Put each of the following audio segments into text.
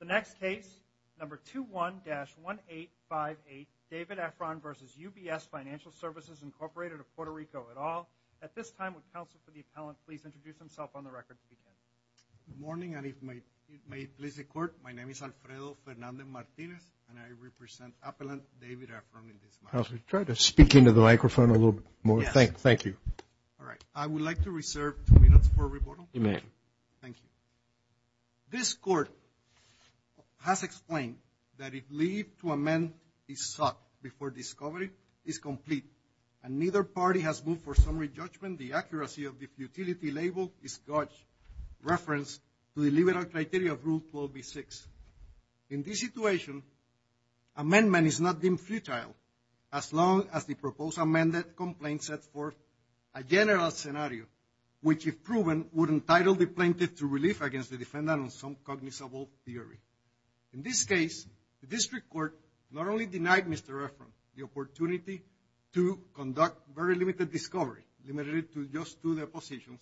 The next case, number 21-1858, David Efron v. UBS Financial Services Incorporated of Puerto Rico et al. At this time, would counsel for the appellant please introduce himself on the record to begin. Good morning, and if it may please the Court, my name is Alfredo Fernandez-Martinez, and I represent appellant David Efron in this matter. Counselor, try to speak into the microphone a little bit more. Yes. Thank you. All right. I would like to reserve two minutes for rebuttal. You may. Thank you. This Court has explained that a plea to amend is sought before discovery is complete, and neither party has moved for summary judgment. The accuracy of the futility label is God's reference to the liberal criteria of Rule 12b-6. In this situation, amendment is not deemed futile as long as the proposed amended complaint sets forth a general scenario, which if proven would entitle the plaintiff to relief against the defendant on some cognizable theory. In this case, the district court not only denied Mr. Efron the opportunity to conduct very limited discovery, limited it to just two depositions,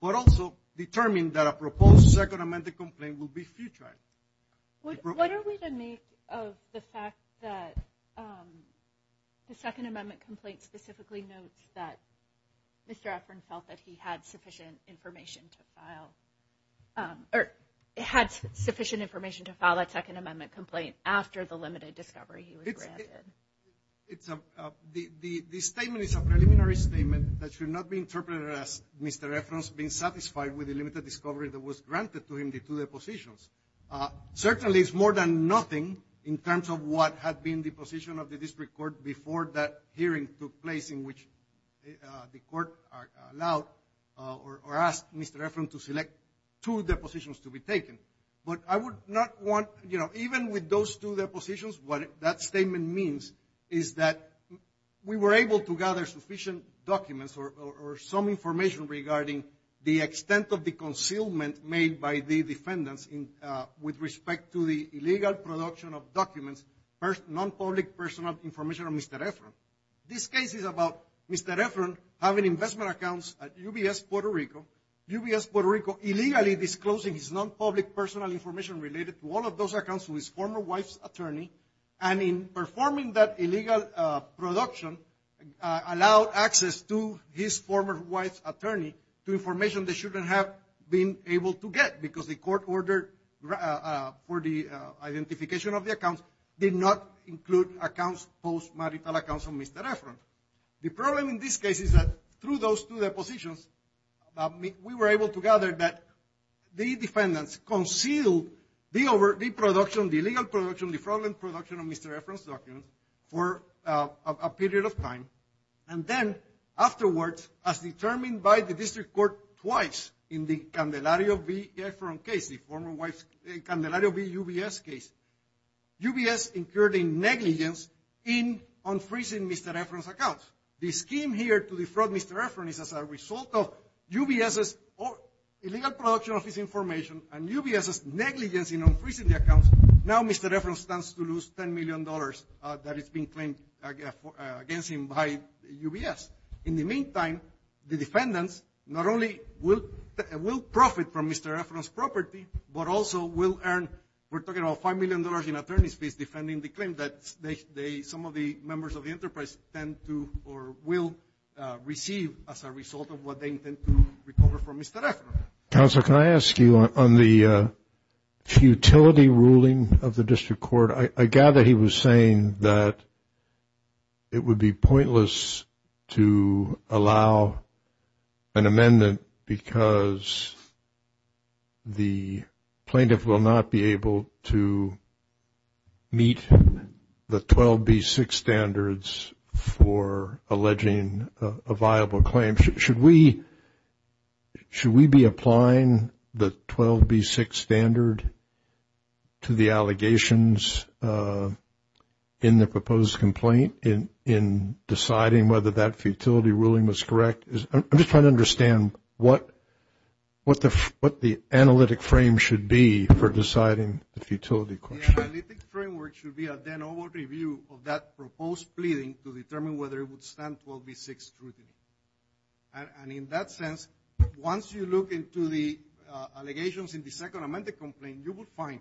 but also determined that a proposed second amended complaint would be futile. What are we to make of the fact that the second amendment complaint specifically notes that Mr. Efron felt that he had sufficient information to file, or had sufficient information to file a second amendment complaint after the limited discovery he was granted? The statement is a preliminary statement that should not be interpreted as Mr. Efron's being satisfied with the limited discovery that was granted to him, the two depositions. Certainly, it's more than nothing in terms of what had been the position of the district court before that hearing took place in which the court allowed or asked Mr. Efron to select two depositions to be taken. But I would not want, you know, even with those two depositions, what that statement means is that we were able to gather sufficient documents or some information regarding the extent of the concealment made by the defendants with respect to the illegal production of documents, non-public personal information of Mr. Efron. This case is about Mr. Efron having investment accounts at UBS Puerto Rico, UBS Puerto Rico illegally disclosing his non-public personal information related to all of those accounts to his former wife's attorney, and in performing that illegal production, allowed access to his former wife's attorney to information they shouldn't have been able to get because the court ordered for the identification of the accounts did not include accounts, post-marital accounts of Mr. Efron. The problem in this case is that through those two depositions, we were able to gather that the defendants concealed the production, the illegal production, the fraudulent production of Mr. Efron's documents for a period of time. And then afterwards, as determined by the district court twice in the Candelario v. Efron case, the former wife's, Candelario v. UBS case, UBS incurred a negligence in unfreezing Mr. Efron's accounts. The scheme here to defraud Mr. Efron is as a result of UBS's illegal production of his information and UBS's negligence in unfreezing the accounts. Now Mr. Efron stands to lose $10 million that is being claimed against him by UBS. In the meantime, the defendants not only will profit from Mr. Efron's property, but also will earn, we're talking about $5 million in attorney's fees, defending the claim that some of the members of the enterprise tend to or will receive as a result of what they intend to recover from Mr. Efron. Counsel, can I ask you on the futility ruling of the district court? I gather he was saying that it would be pointless to allow an amendment because the plaintiff will not be able to meet the 12B6 standards for alleging a viable claim. Should we be applying the 12B6 standard to the allegations in the proposed complaint in deciding whether that futility ruling was correct? I'm just trying to understand what the analytic frame should be for deciding the futility question. The analytic framework should be a then overall review of that proposed pleading to determine whether it would stand 12B6 scrutiny. And in that sense, once you look into the allegations in the second amended complaint, you will find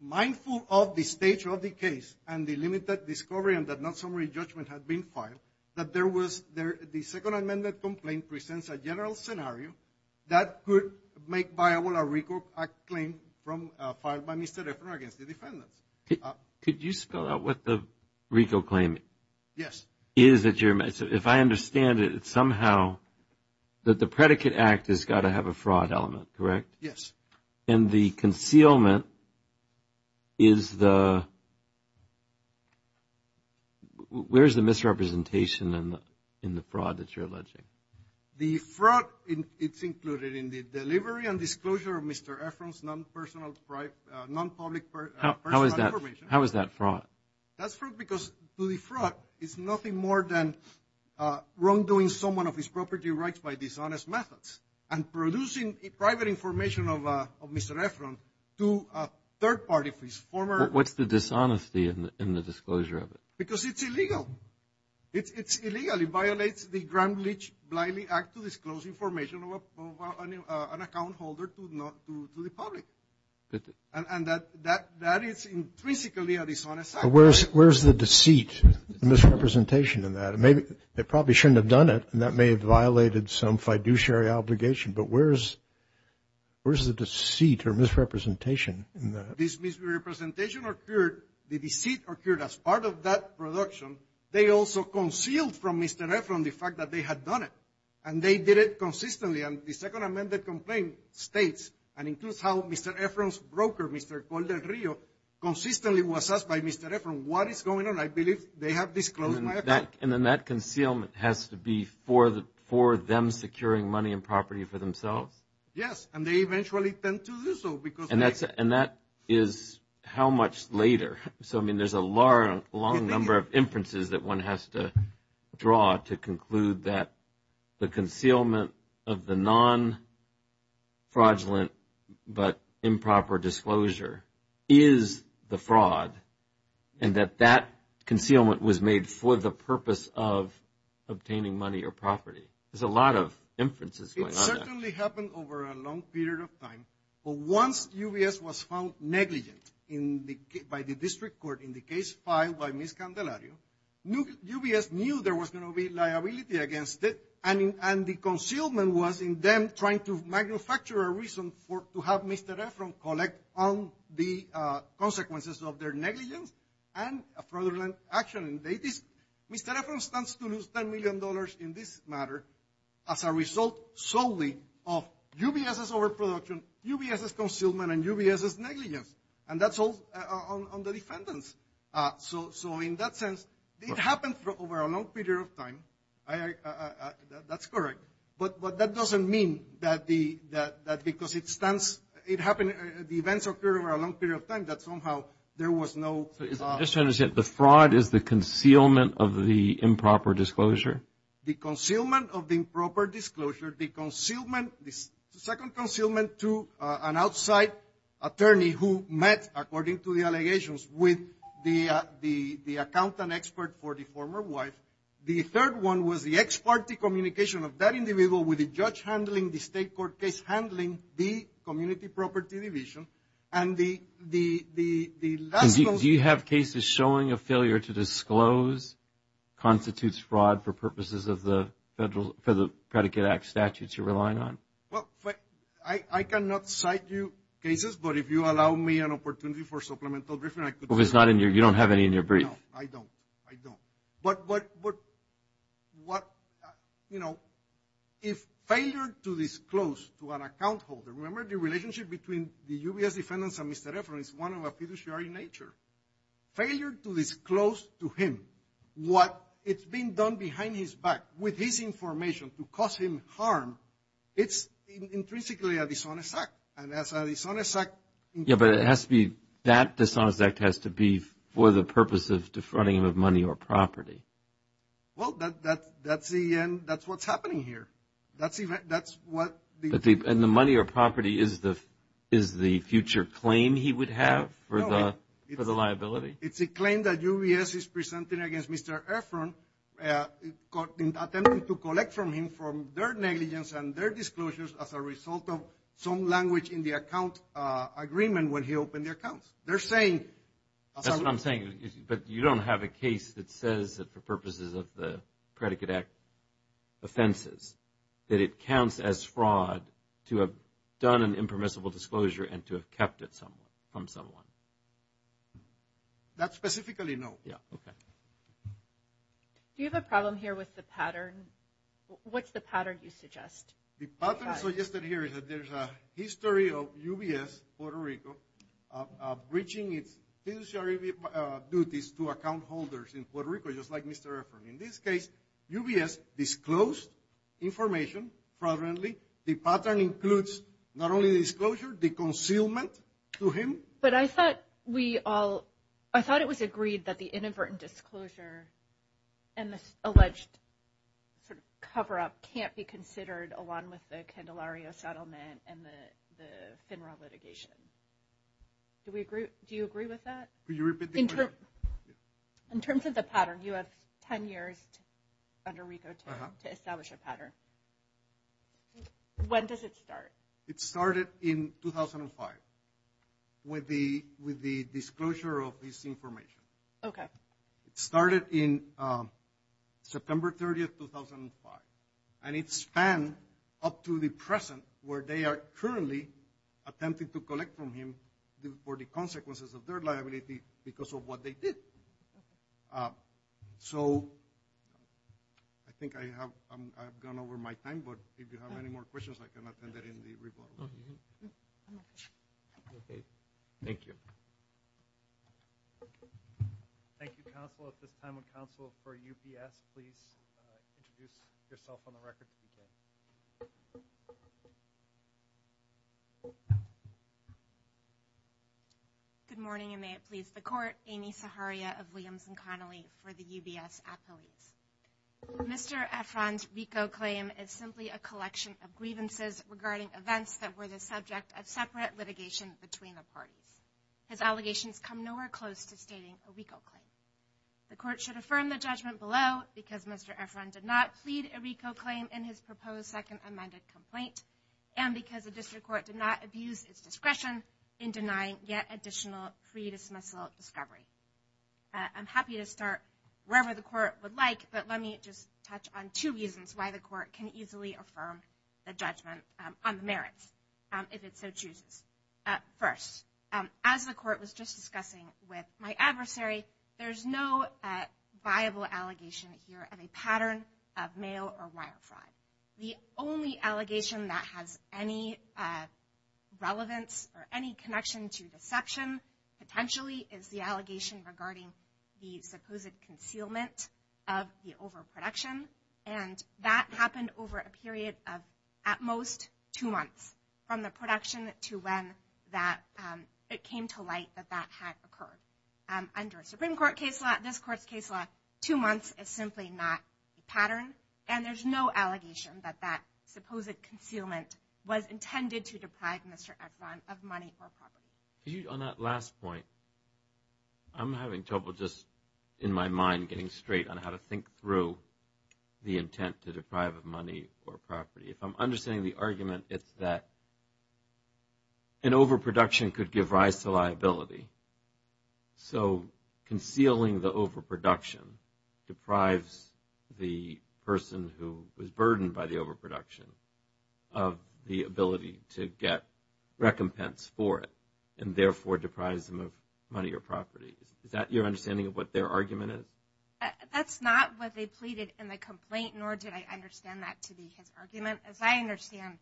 mindful of the stage of the case and the limited discovery that non-summary judgment had been filed, that the second amended complaint presents a general scenario that could make viable a RICO claim filed by Mr. Efron against the defendants. Could you spell out what the RICO claim is? Yes. If I understand it, it's somehow that the predicate act has got to have a fraud element, correct? Yes. And the concealment is the – where is the misrepresentation in the fraud that you're alleging? The fraud, it's included in the delivery and disclosure of Mr. Efron's non-public personal information. How is that fraud? That's fraud because to defraud is nothing more than wrongdoing someone of his property rights by dishonest methods. And producing private information of Mr. Efron to a third party for his former – What's the dishonesty in the disclosure of it? Because it's illegal. It's illegal. It violates the Gramm-Leach-Bliley Act to disclose information of an account holder to the public. And that is intrinsically a dishonest act. Where's the deceit and misrepresentation in that? They probably shouldn't have done it, and that may have violated some fiduciary obligation. But where's the deceit or misrepresentation in that? This misrepresentation occurred – the deceit occurred as part of that production. They also concealed from Mr. Efron the fact that they had done it, and they did it consistently. And the second amended complaint states and includes how Mr. Efron's broker, Mr. Calder-Rio, consistently was asked by Mr. Efron what is going on. And I believe they have disclosed my account. And then that concealment has to be for them securing money and property for themselves? Yes, and they eventually tend to do so because they – And that is how much later? So, I mean, there's a long number of inferences that one has to draw to conclude that the concealment of the non-fraudulent but improper disclosure is the fraud and that that concealment was made for the purpose of obtaining money or property. There's a lot of inferences going on there. It certainly happened over a long period of time. But once UBS was found negligent by the district court in the case filed by Ms. Candelario, UBS knew there was going to be liability against it, and the concealment was in them trying to manufacture a reason to have Mr. Efron collect on the consequences of their negligence and a fraudulent action. Mr. Efron stands to lose $10 million in this matter as a result solely of UBS's overproduction, UBS's concealment, and UBS's negligence. And that's all on the defendants. So, in that sense, it happened over a long period of time. That's correct. But that doesn't mean that because it stands – it happened – the events occurred over a long period of time, that somehow there was no – Just to understand, the fraud is the concealment of the improper disclosure? The concealment of the improper disclosure, the concealment – the second concealment to an outside attorney who met, according to the allegations, with the accountant expert for the former wife. The third one was the ex parte communication of that individual with the judge handling the state court case, handling the community property division. And the – Do you have cases showing a failure to disclose constitutes fraud for purposes of the Federal – for the Predicate Act statutes you're relying on? Well, I cannot cite you cases, but if you allow me an opportunity for supplemental briefing, I could – Well, it's not in your – you don't have any in your brief. No, I don't. I don't. But what – you know, if failure to disclose to an account holder – remember, the relationship between the UBS defendants and Mr. Efron is one of a fiduciary nature. Failure to disclose to him what is being done behind his back with his information to cause him harm, it's intrinsically a dishonest act. And as a dishonest act – Yeah, but it has to be – that dishonest act has to be for the purpose of defrauding him of money or property. Well, that's the – that's what's happening here. That's what – And the money or property is the future claim he would have for the liability? It's a claim that UBS is presenting against Mr. Efron, attempting to collect from him from their negligence and their disclosures as a result of some language in the account agreement when he opened the accounts. They're saying – That's what I'm saying. But you don't have a case that says that for purposes of the Predicate Act offenses, that it counts as fraud to have done an impermissible disclosure and to have kept it from someone? That specifically, no. Yeah, okay. Do you have a problem here with the pattern? What's the pattern you suggest? The pattern suggested here is that there's a history of UBS, Puerto Rico, breaching its fiduciary duties to account holders in Puerto Rico, just like Mr. Efron. In this case, UBS disclosed information fraudulently. The pattern includes not only the disclosure, the concealment to him. But I thought we all – I thought it was agreed that the inadvertent disclosure and the alleged sort of cover-up can't be considered along with the Candelario settlement and the FINRA litigation. Do we agree – do you agree with that? Could you repeat the question? In terms of the pattern, you have 10 years under RICO to establish a pattern. When does it start? It started in 2005 with the disclosure of this information. Okay. It started in September 30, 2005. And it spanned up to the present where they are currently attempting to collect from him for the consequences of their liability because of what they did. So I think I have gone over my time, but if you have any more questions, I can attend it in the RICO. Thank you. Thank you, counsel. At this time, would counsel for UBS please introduce yourself on the record? Good morning, and may it please the Court. Amy Saharia of Williams & Connolly for the UBS Attorneys. Mr. Efron's RICO claim is simply a collection of grievances regarding events that were the subject of separate litigation between the parties. His allegations come nowhere close to stating a RICO claim. The Court should affirm the judgment below because Mr. Efron did not plead a RICO claim in his proposed second amended complaint and because the District Court did not abuse its discretion in denying yet additional pre-dismissal discovery. I'm happy to start wherever the Court would like, but let me just touch on two reasons why the Court can easily affirm the judgment on the merits if it so chooses. First, as the Court was just discussing with my adversary, there's no viable allegation here of a pattern of mail or wire fraud. The only allegation that has any relevance or any connection to deception, potentially, is the allegation regarding the supposed concealment of the overproduction, and that happened over a period of at most two months from the production to when it came to light that that had occurred. Under a Supreme Court case law, this Court's case law, two months is simply not a pattern, and there's no allegation that that supposed concealment was intended to deprive Mr. Efron of money or property. On that last point, I'm having trouble just in my mind getting straight on how to think through the intent to deprive of money or property. If I'm understanding the argument, it's that an overproduction could give rise to liability. So concealing the overproduction deprives the person who was burdened by the overproduction of the ability to get recompense for it, and therefore deprives them of money or property. Is that your understanding of what their argument is? That's not what they pleaded in the complaint, nor did I understand that to be his argument. As I understand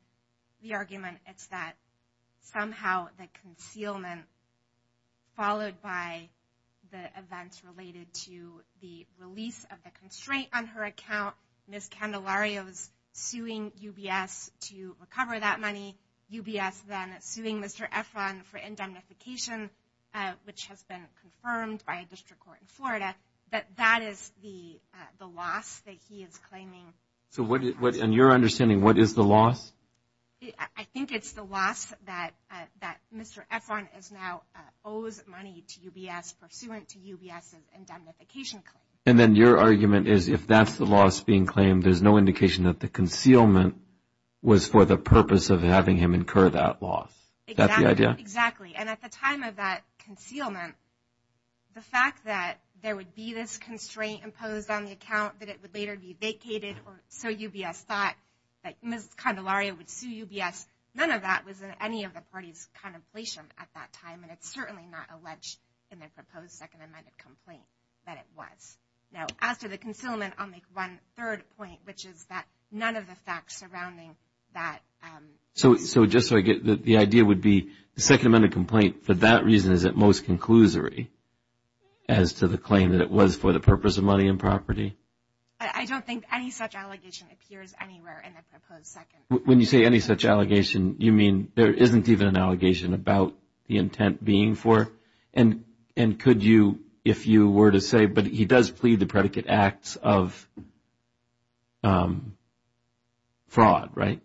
the argument, it's that somehow the concealment followed by the events related to the release of the constraint on her account, Ms. Candelario's suing UBS to recover that money, UBS then suing Mr. Efron for indemnification, which has been confirmed by a district court in Florida, that that is the loss that he is claiming. So in your understanding, what is the loss? I think it's the loss that Mr. Efron now owes money to UBS pursuant to UBS' indemnification claim. And then your argument is if that's the loss being claimed, there's no indication that the concealment was for the purpose of having him incur that loss. Is that the idea? Exactly. And at the time of that concealment, the fact that there would be this constraint imposed on the account, that it would later be vacated, or so UBS thought that Ms. Candelario would sue UBS, none of that was in any of the party's contemplation at that time, and it's certainly not alleged in the proposed Second Amendment complaint that it was. Now, as to the concealment, I'll make one third point, which is that none of the facts surrounding that. So just so I get it, the idea would be the Second Amendment complaint, for that reason, is at most conclusory as to the claim that it was for the purpose of money and property? I don't think any such allegation appears anywhere in the proposed Second Amendment. When you say any such allegation, you mean there isn't even an allegation about the intent being for? And could you, if you were to say, but he does plead the predicate acts of fraud, right?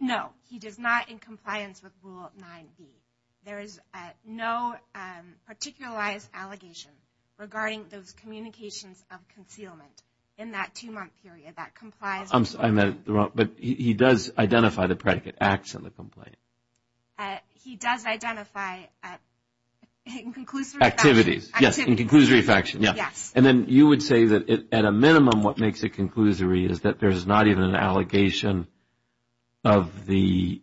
No, he does not in compliance with Rule 9b. There is no particularized allegation regarding those communications of concealment in that two-month period that complies with Rule 9b. But he does identify the predicate acts in the complaint? He does identify it in conclusory faction. Activities, yes, in conclusory faction, yes. And then you would say that at a minimum, what makes it conclusory is that there is not even an allegation of the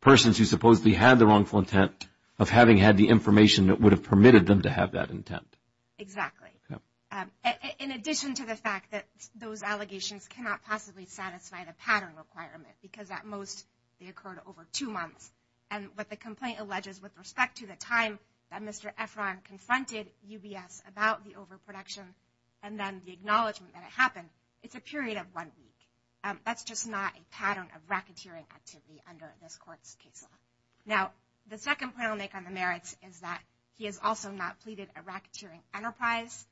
persons who supposedly had the wrongful intent of having had the information that would have permitted them to have that intent. Exactly. In addition to the fact that those allegations cannot possibly satisfy the pattern requirement, because at most they occurred over two months. And what the complaint alleges with respect to the time that Mr. Efron confronted UBS about the overproduction and then the acknowledgement that it happened, it's a period of one week. That's just not a pattern of racketeering activity under this Court's case law. Now, the second point I'll make on the merits is that he has also not pleaded a racketeering enterprise.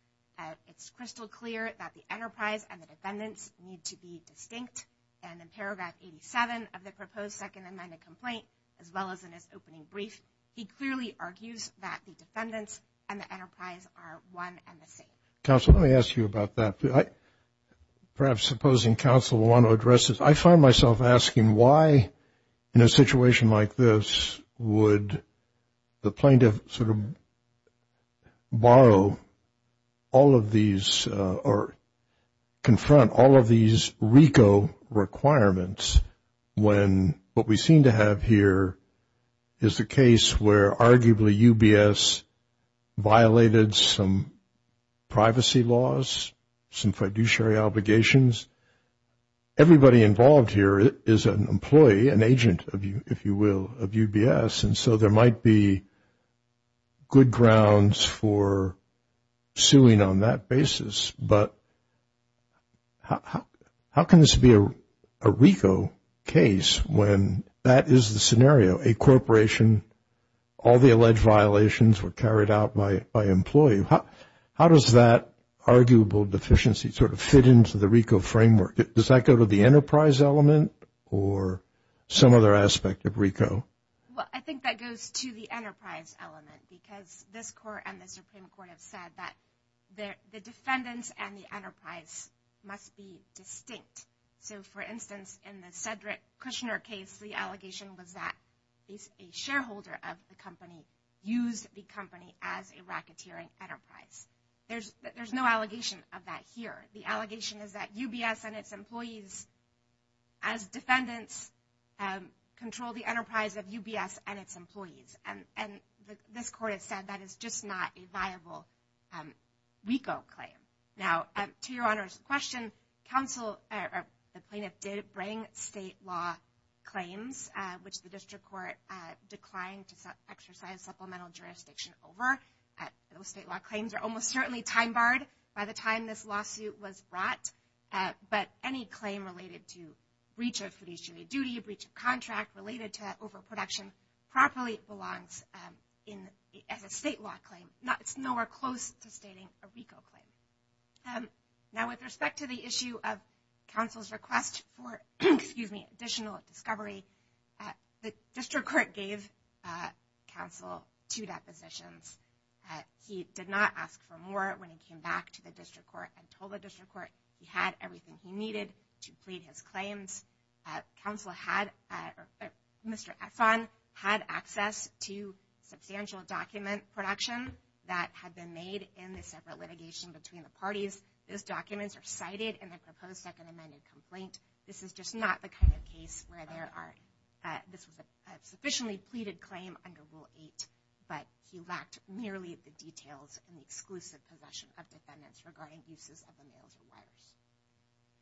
It's crystal clear that the enterprise and the defendants need to be distinct. And in paragraph 87 of the proposed Second Amendment complaint, as well as in his opening brief, he clearly argues that the defendants and the enterprise are one and the same. Counsel, let me ask you about that. Perhaps supposing counsel will want to address this. I find myself asking why in a situation like this would the plaintiff sort of borrow all of these or confront all of these RICO requirements when what we seem to have here is a case where arguably UBS violated some fiduciary obligations, everybody involved here is an employee, an agent, if you will, of UBS. And so there might be good grounds for suing on that basis. But how can this be a RICO case when that is the scenario? A corporation, all the alleged violations were carried out by employee. How does that arguable deficiency sort of fit into the RICO framework? Does that go to the enterprise element or some other aspect of RICO? Well, I think that goes to the enterprise element because this court and the Supreme Court have said that the defendants and the enterprise must be distinct. So, for instance, in the Cedric Kushner case, the allegation was that a shareholder of the company used the company as a racketeering enterprise. There's no allegation of that here. The allegation is that UBS and its employees as defendants control the enterprise of UBS and its employees. And this court has said that is just not a viable RICO claim. Now, to your Honor's question, the plaintiff did bring state law claims, which the district court declined to exercise supplemental jurisdiction over. Those state law claims are almost certainly time barred by the time this lawsuit was brought. But any claim related to breach of fiduciary duty, a breach of contract related to overproduction properly belongs as a state law claim. It's nowhere close to stating a RICO claim. Now, with respect to the issue of counsel's request for additional discovery, the district court gave counsel two depositions. He did not ask for more when he came back to the district court and told the district court he had everything he needed to plead his claims. Mr. Efron had access to substantial document production that had been made in the separate litigation between the parties. Those documents are cited in the proposed second amended complaint. This is just not the kind of case where this was a sufficiently pleaded claim under Rule 8, but he lacked nearly the details in the exclusive possession of defendants regarding uses of the mails or wires.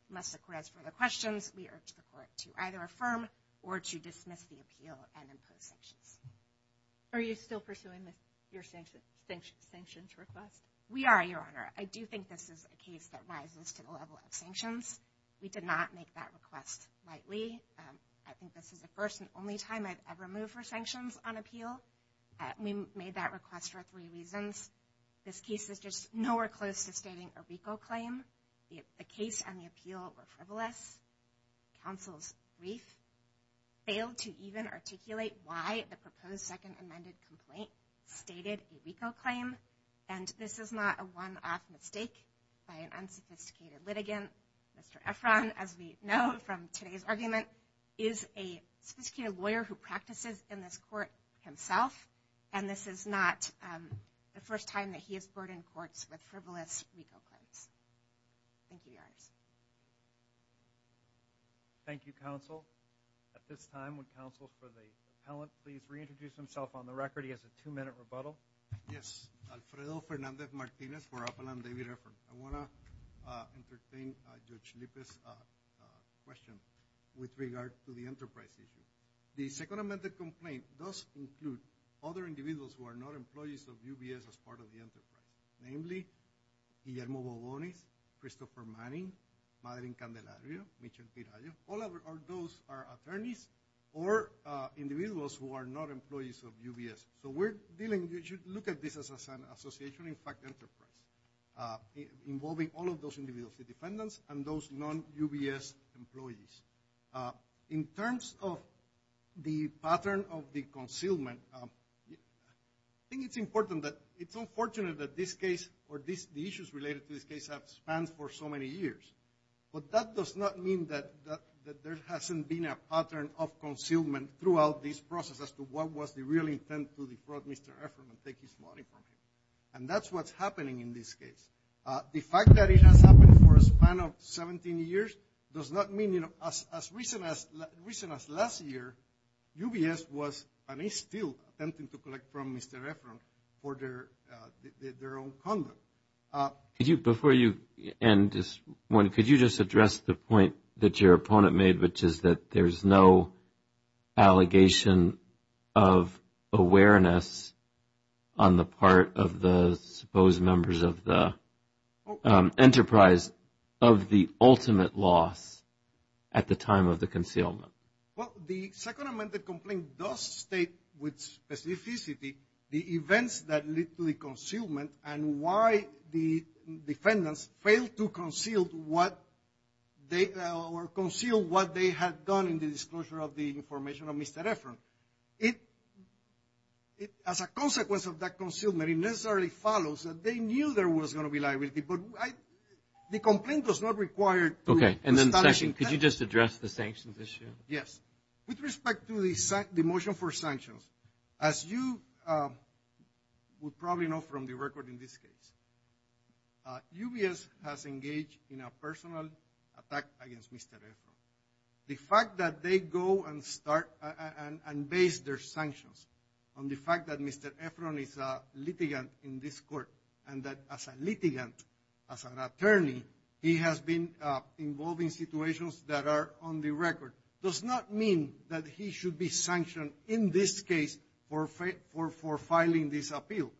Unless the court has further questions, we urge the court to either affirm or to dismiss the appeal and impose sanctions. Are you still pursuing your sanctions request? We are, Your Honor. I do think this is a case that rises to the level of sanctions. We did not make that request lightly. I think this is the first and only time I've ever moved for sanctions on appeal. We made that request for three reasons. This case is just nowhere close to stating a RICO claim. The case and the appeal were frivolous. Counsel's brief failed to even articulate why the proposed second amended complaint stated a RICO claim. And this is not a one-off mistake by an unsophisticated litigant. Mr. Efron, as we know from today's argument, is a sophisticated lawyer who practices in this court himself. And this is not the first time that he has brought in courts with frivolous RICO claims. Thank you, Your Honor. Thank you, Counsel. At this time, would Counsel for the Appellant please reintroduce himself on the record? He has a two-minute rebuttal. Yes. Alfredo Fernandez Martinez for Appellant David Efron. I want to entertain Judge Lipe's question with regard to the enterprise issue. The second amended complaint does include other individuals who are not employees of UBS as part of the enterprise, namely Guillermo Bobonis, Christopher Manning, Madeline Candelario, Mitchell Piragio. All of those are attorneys or individuals who are not employees of UBS. So we're dealing, you should look at this as an association, in fact enterprise, involving all of those individuals, the defendants and those non-UBS employees. In terms of the pattern of the concealment, I think it's important that it's unfortunate that this case or the issues related to this case have spanned for so many years. But that does not mean that there hasn't been a pattern of concealment throughout this process as to what was the real intent to defraud Mr. Efron and take his money from him. And that's what's happening in this case. The fact that it has happened for a span of 17 years does not mean, you know, as recent as last year, UBS was and is still attempting to collect from Mr. Efron for their own conduct. Before you end this one, could you just address the point that your opponent made, which is that there's no allegation of awareness on the part of the supposed members of the enterprise of the ultimate loss at the time of the concealment? Well, the second amended complaint does state with specificity the events that lead to the concealment and why the defendants failed to conceal what they had done in the disclosure of the information of Mr. Efron. As a consequence of that concealment, it necessarily follows that they knew there was going to be liability. But the complaint was not required to establish intent. Could you just address the sanctions issue? As you would probably know from the record in this case, UBS has engaged in a personal attack against Mr. Efron. The fact that they go and start and base their sanctions on the fact that Mr. Efron is a litigant in this court and that as a litigant, as an attorney, he has been involved in situations that are on the record, does not mean that he should be sanctioned in this case for filing this appeal.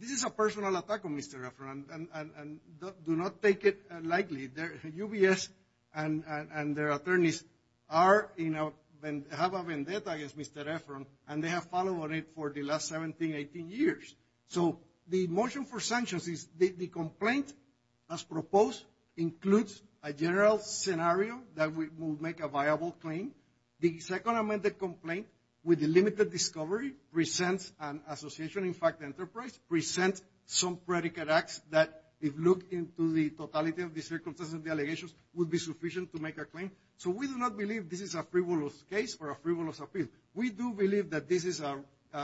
This is a personal attack on Mr. Efron, and do not take it lightly. UBS and their attorneys have a vendetta against Mr. Efron, and they have followed it for the last 17, 18 years. So the motion for sanctions is the complaint as proposed includes a general scenario that will make a viable claim. The second amended complaint with the limited discovery presents an association, in fact enterprise, presents some predicate acts that if looked into the totality of the circumstances of the allegations, would be sufficient to make a claim. So we do not believe this is a frivolous case for a frivolous appeal. We do believe that this is a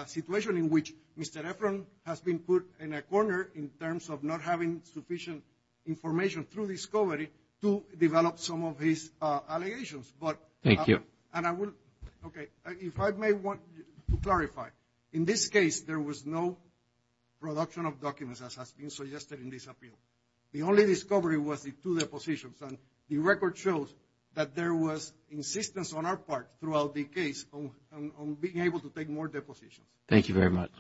situation in which Mr. Efron has been put in a corner in terms of not having sufficient information through discovery to develop some of his allegations. Thank you. And I will, okay, if I may want to clarify. In this case, there was no production of documents as has been suggested in this appeal. The only discovery was the two depositions, and the record shows that there was insistence on our part throughout the case on being able to take more depositions. Thank you very much.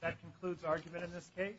That concludes argument in this case.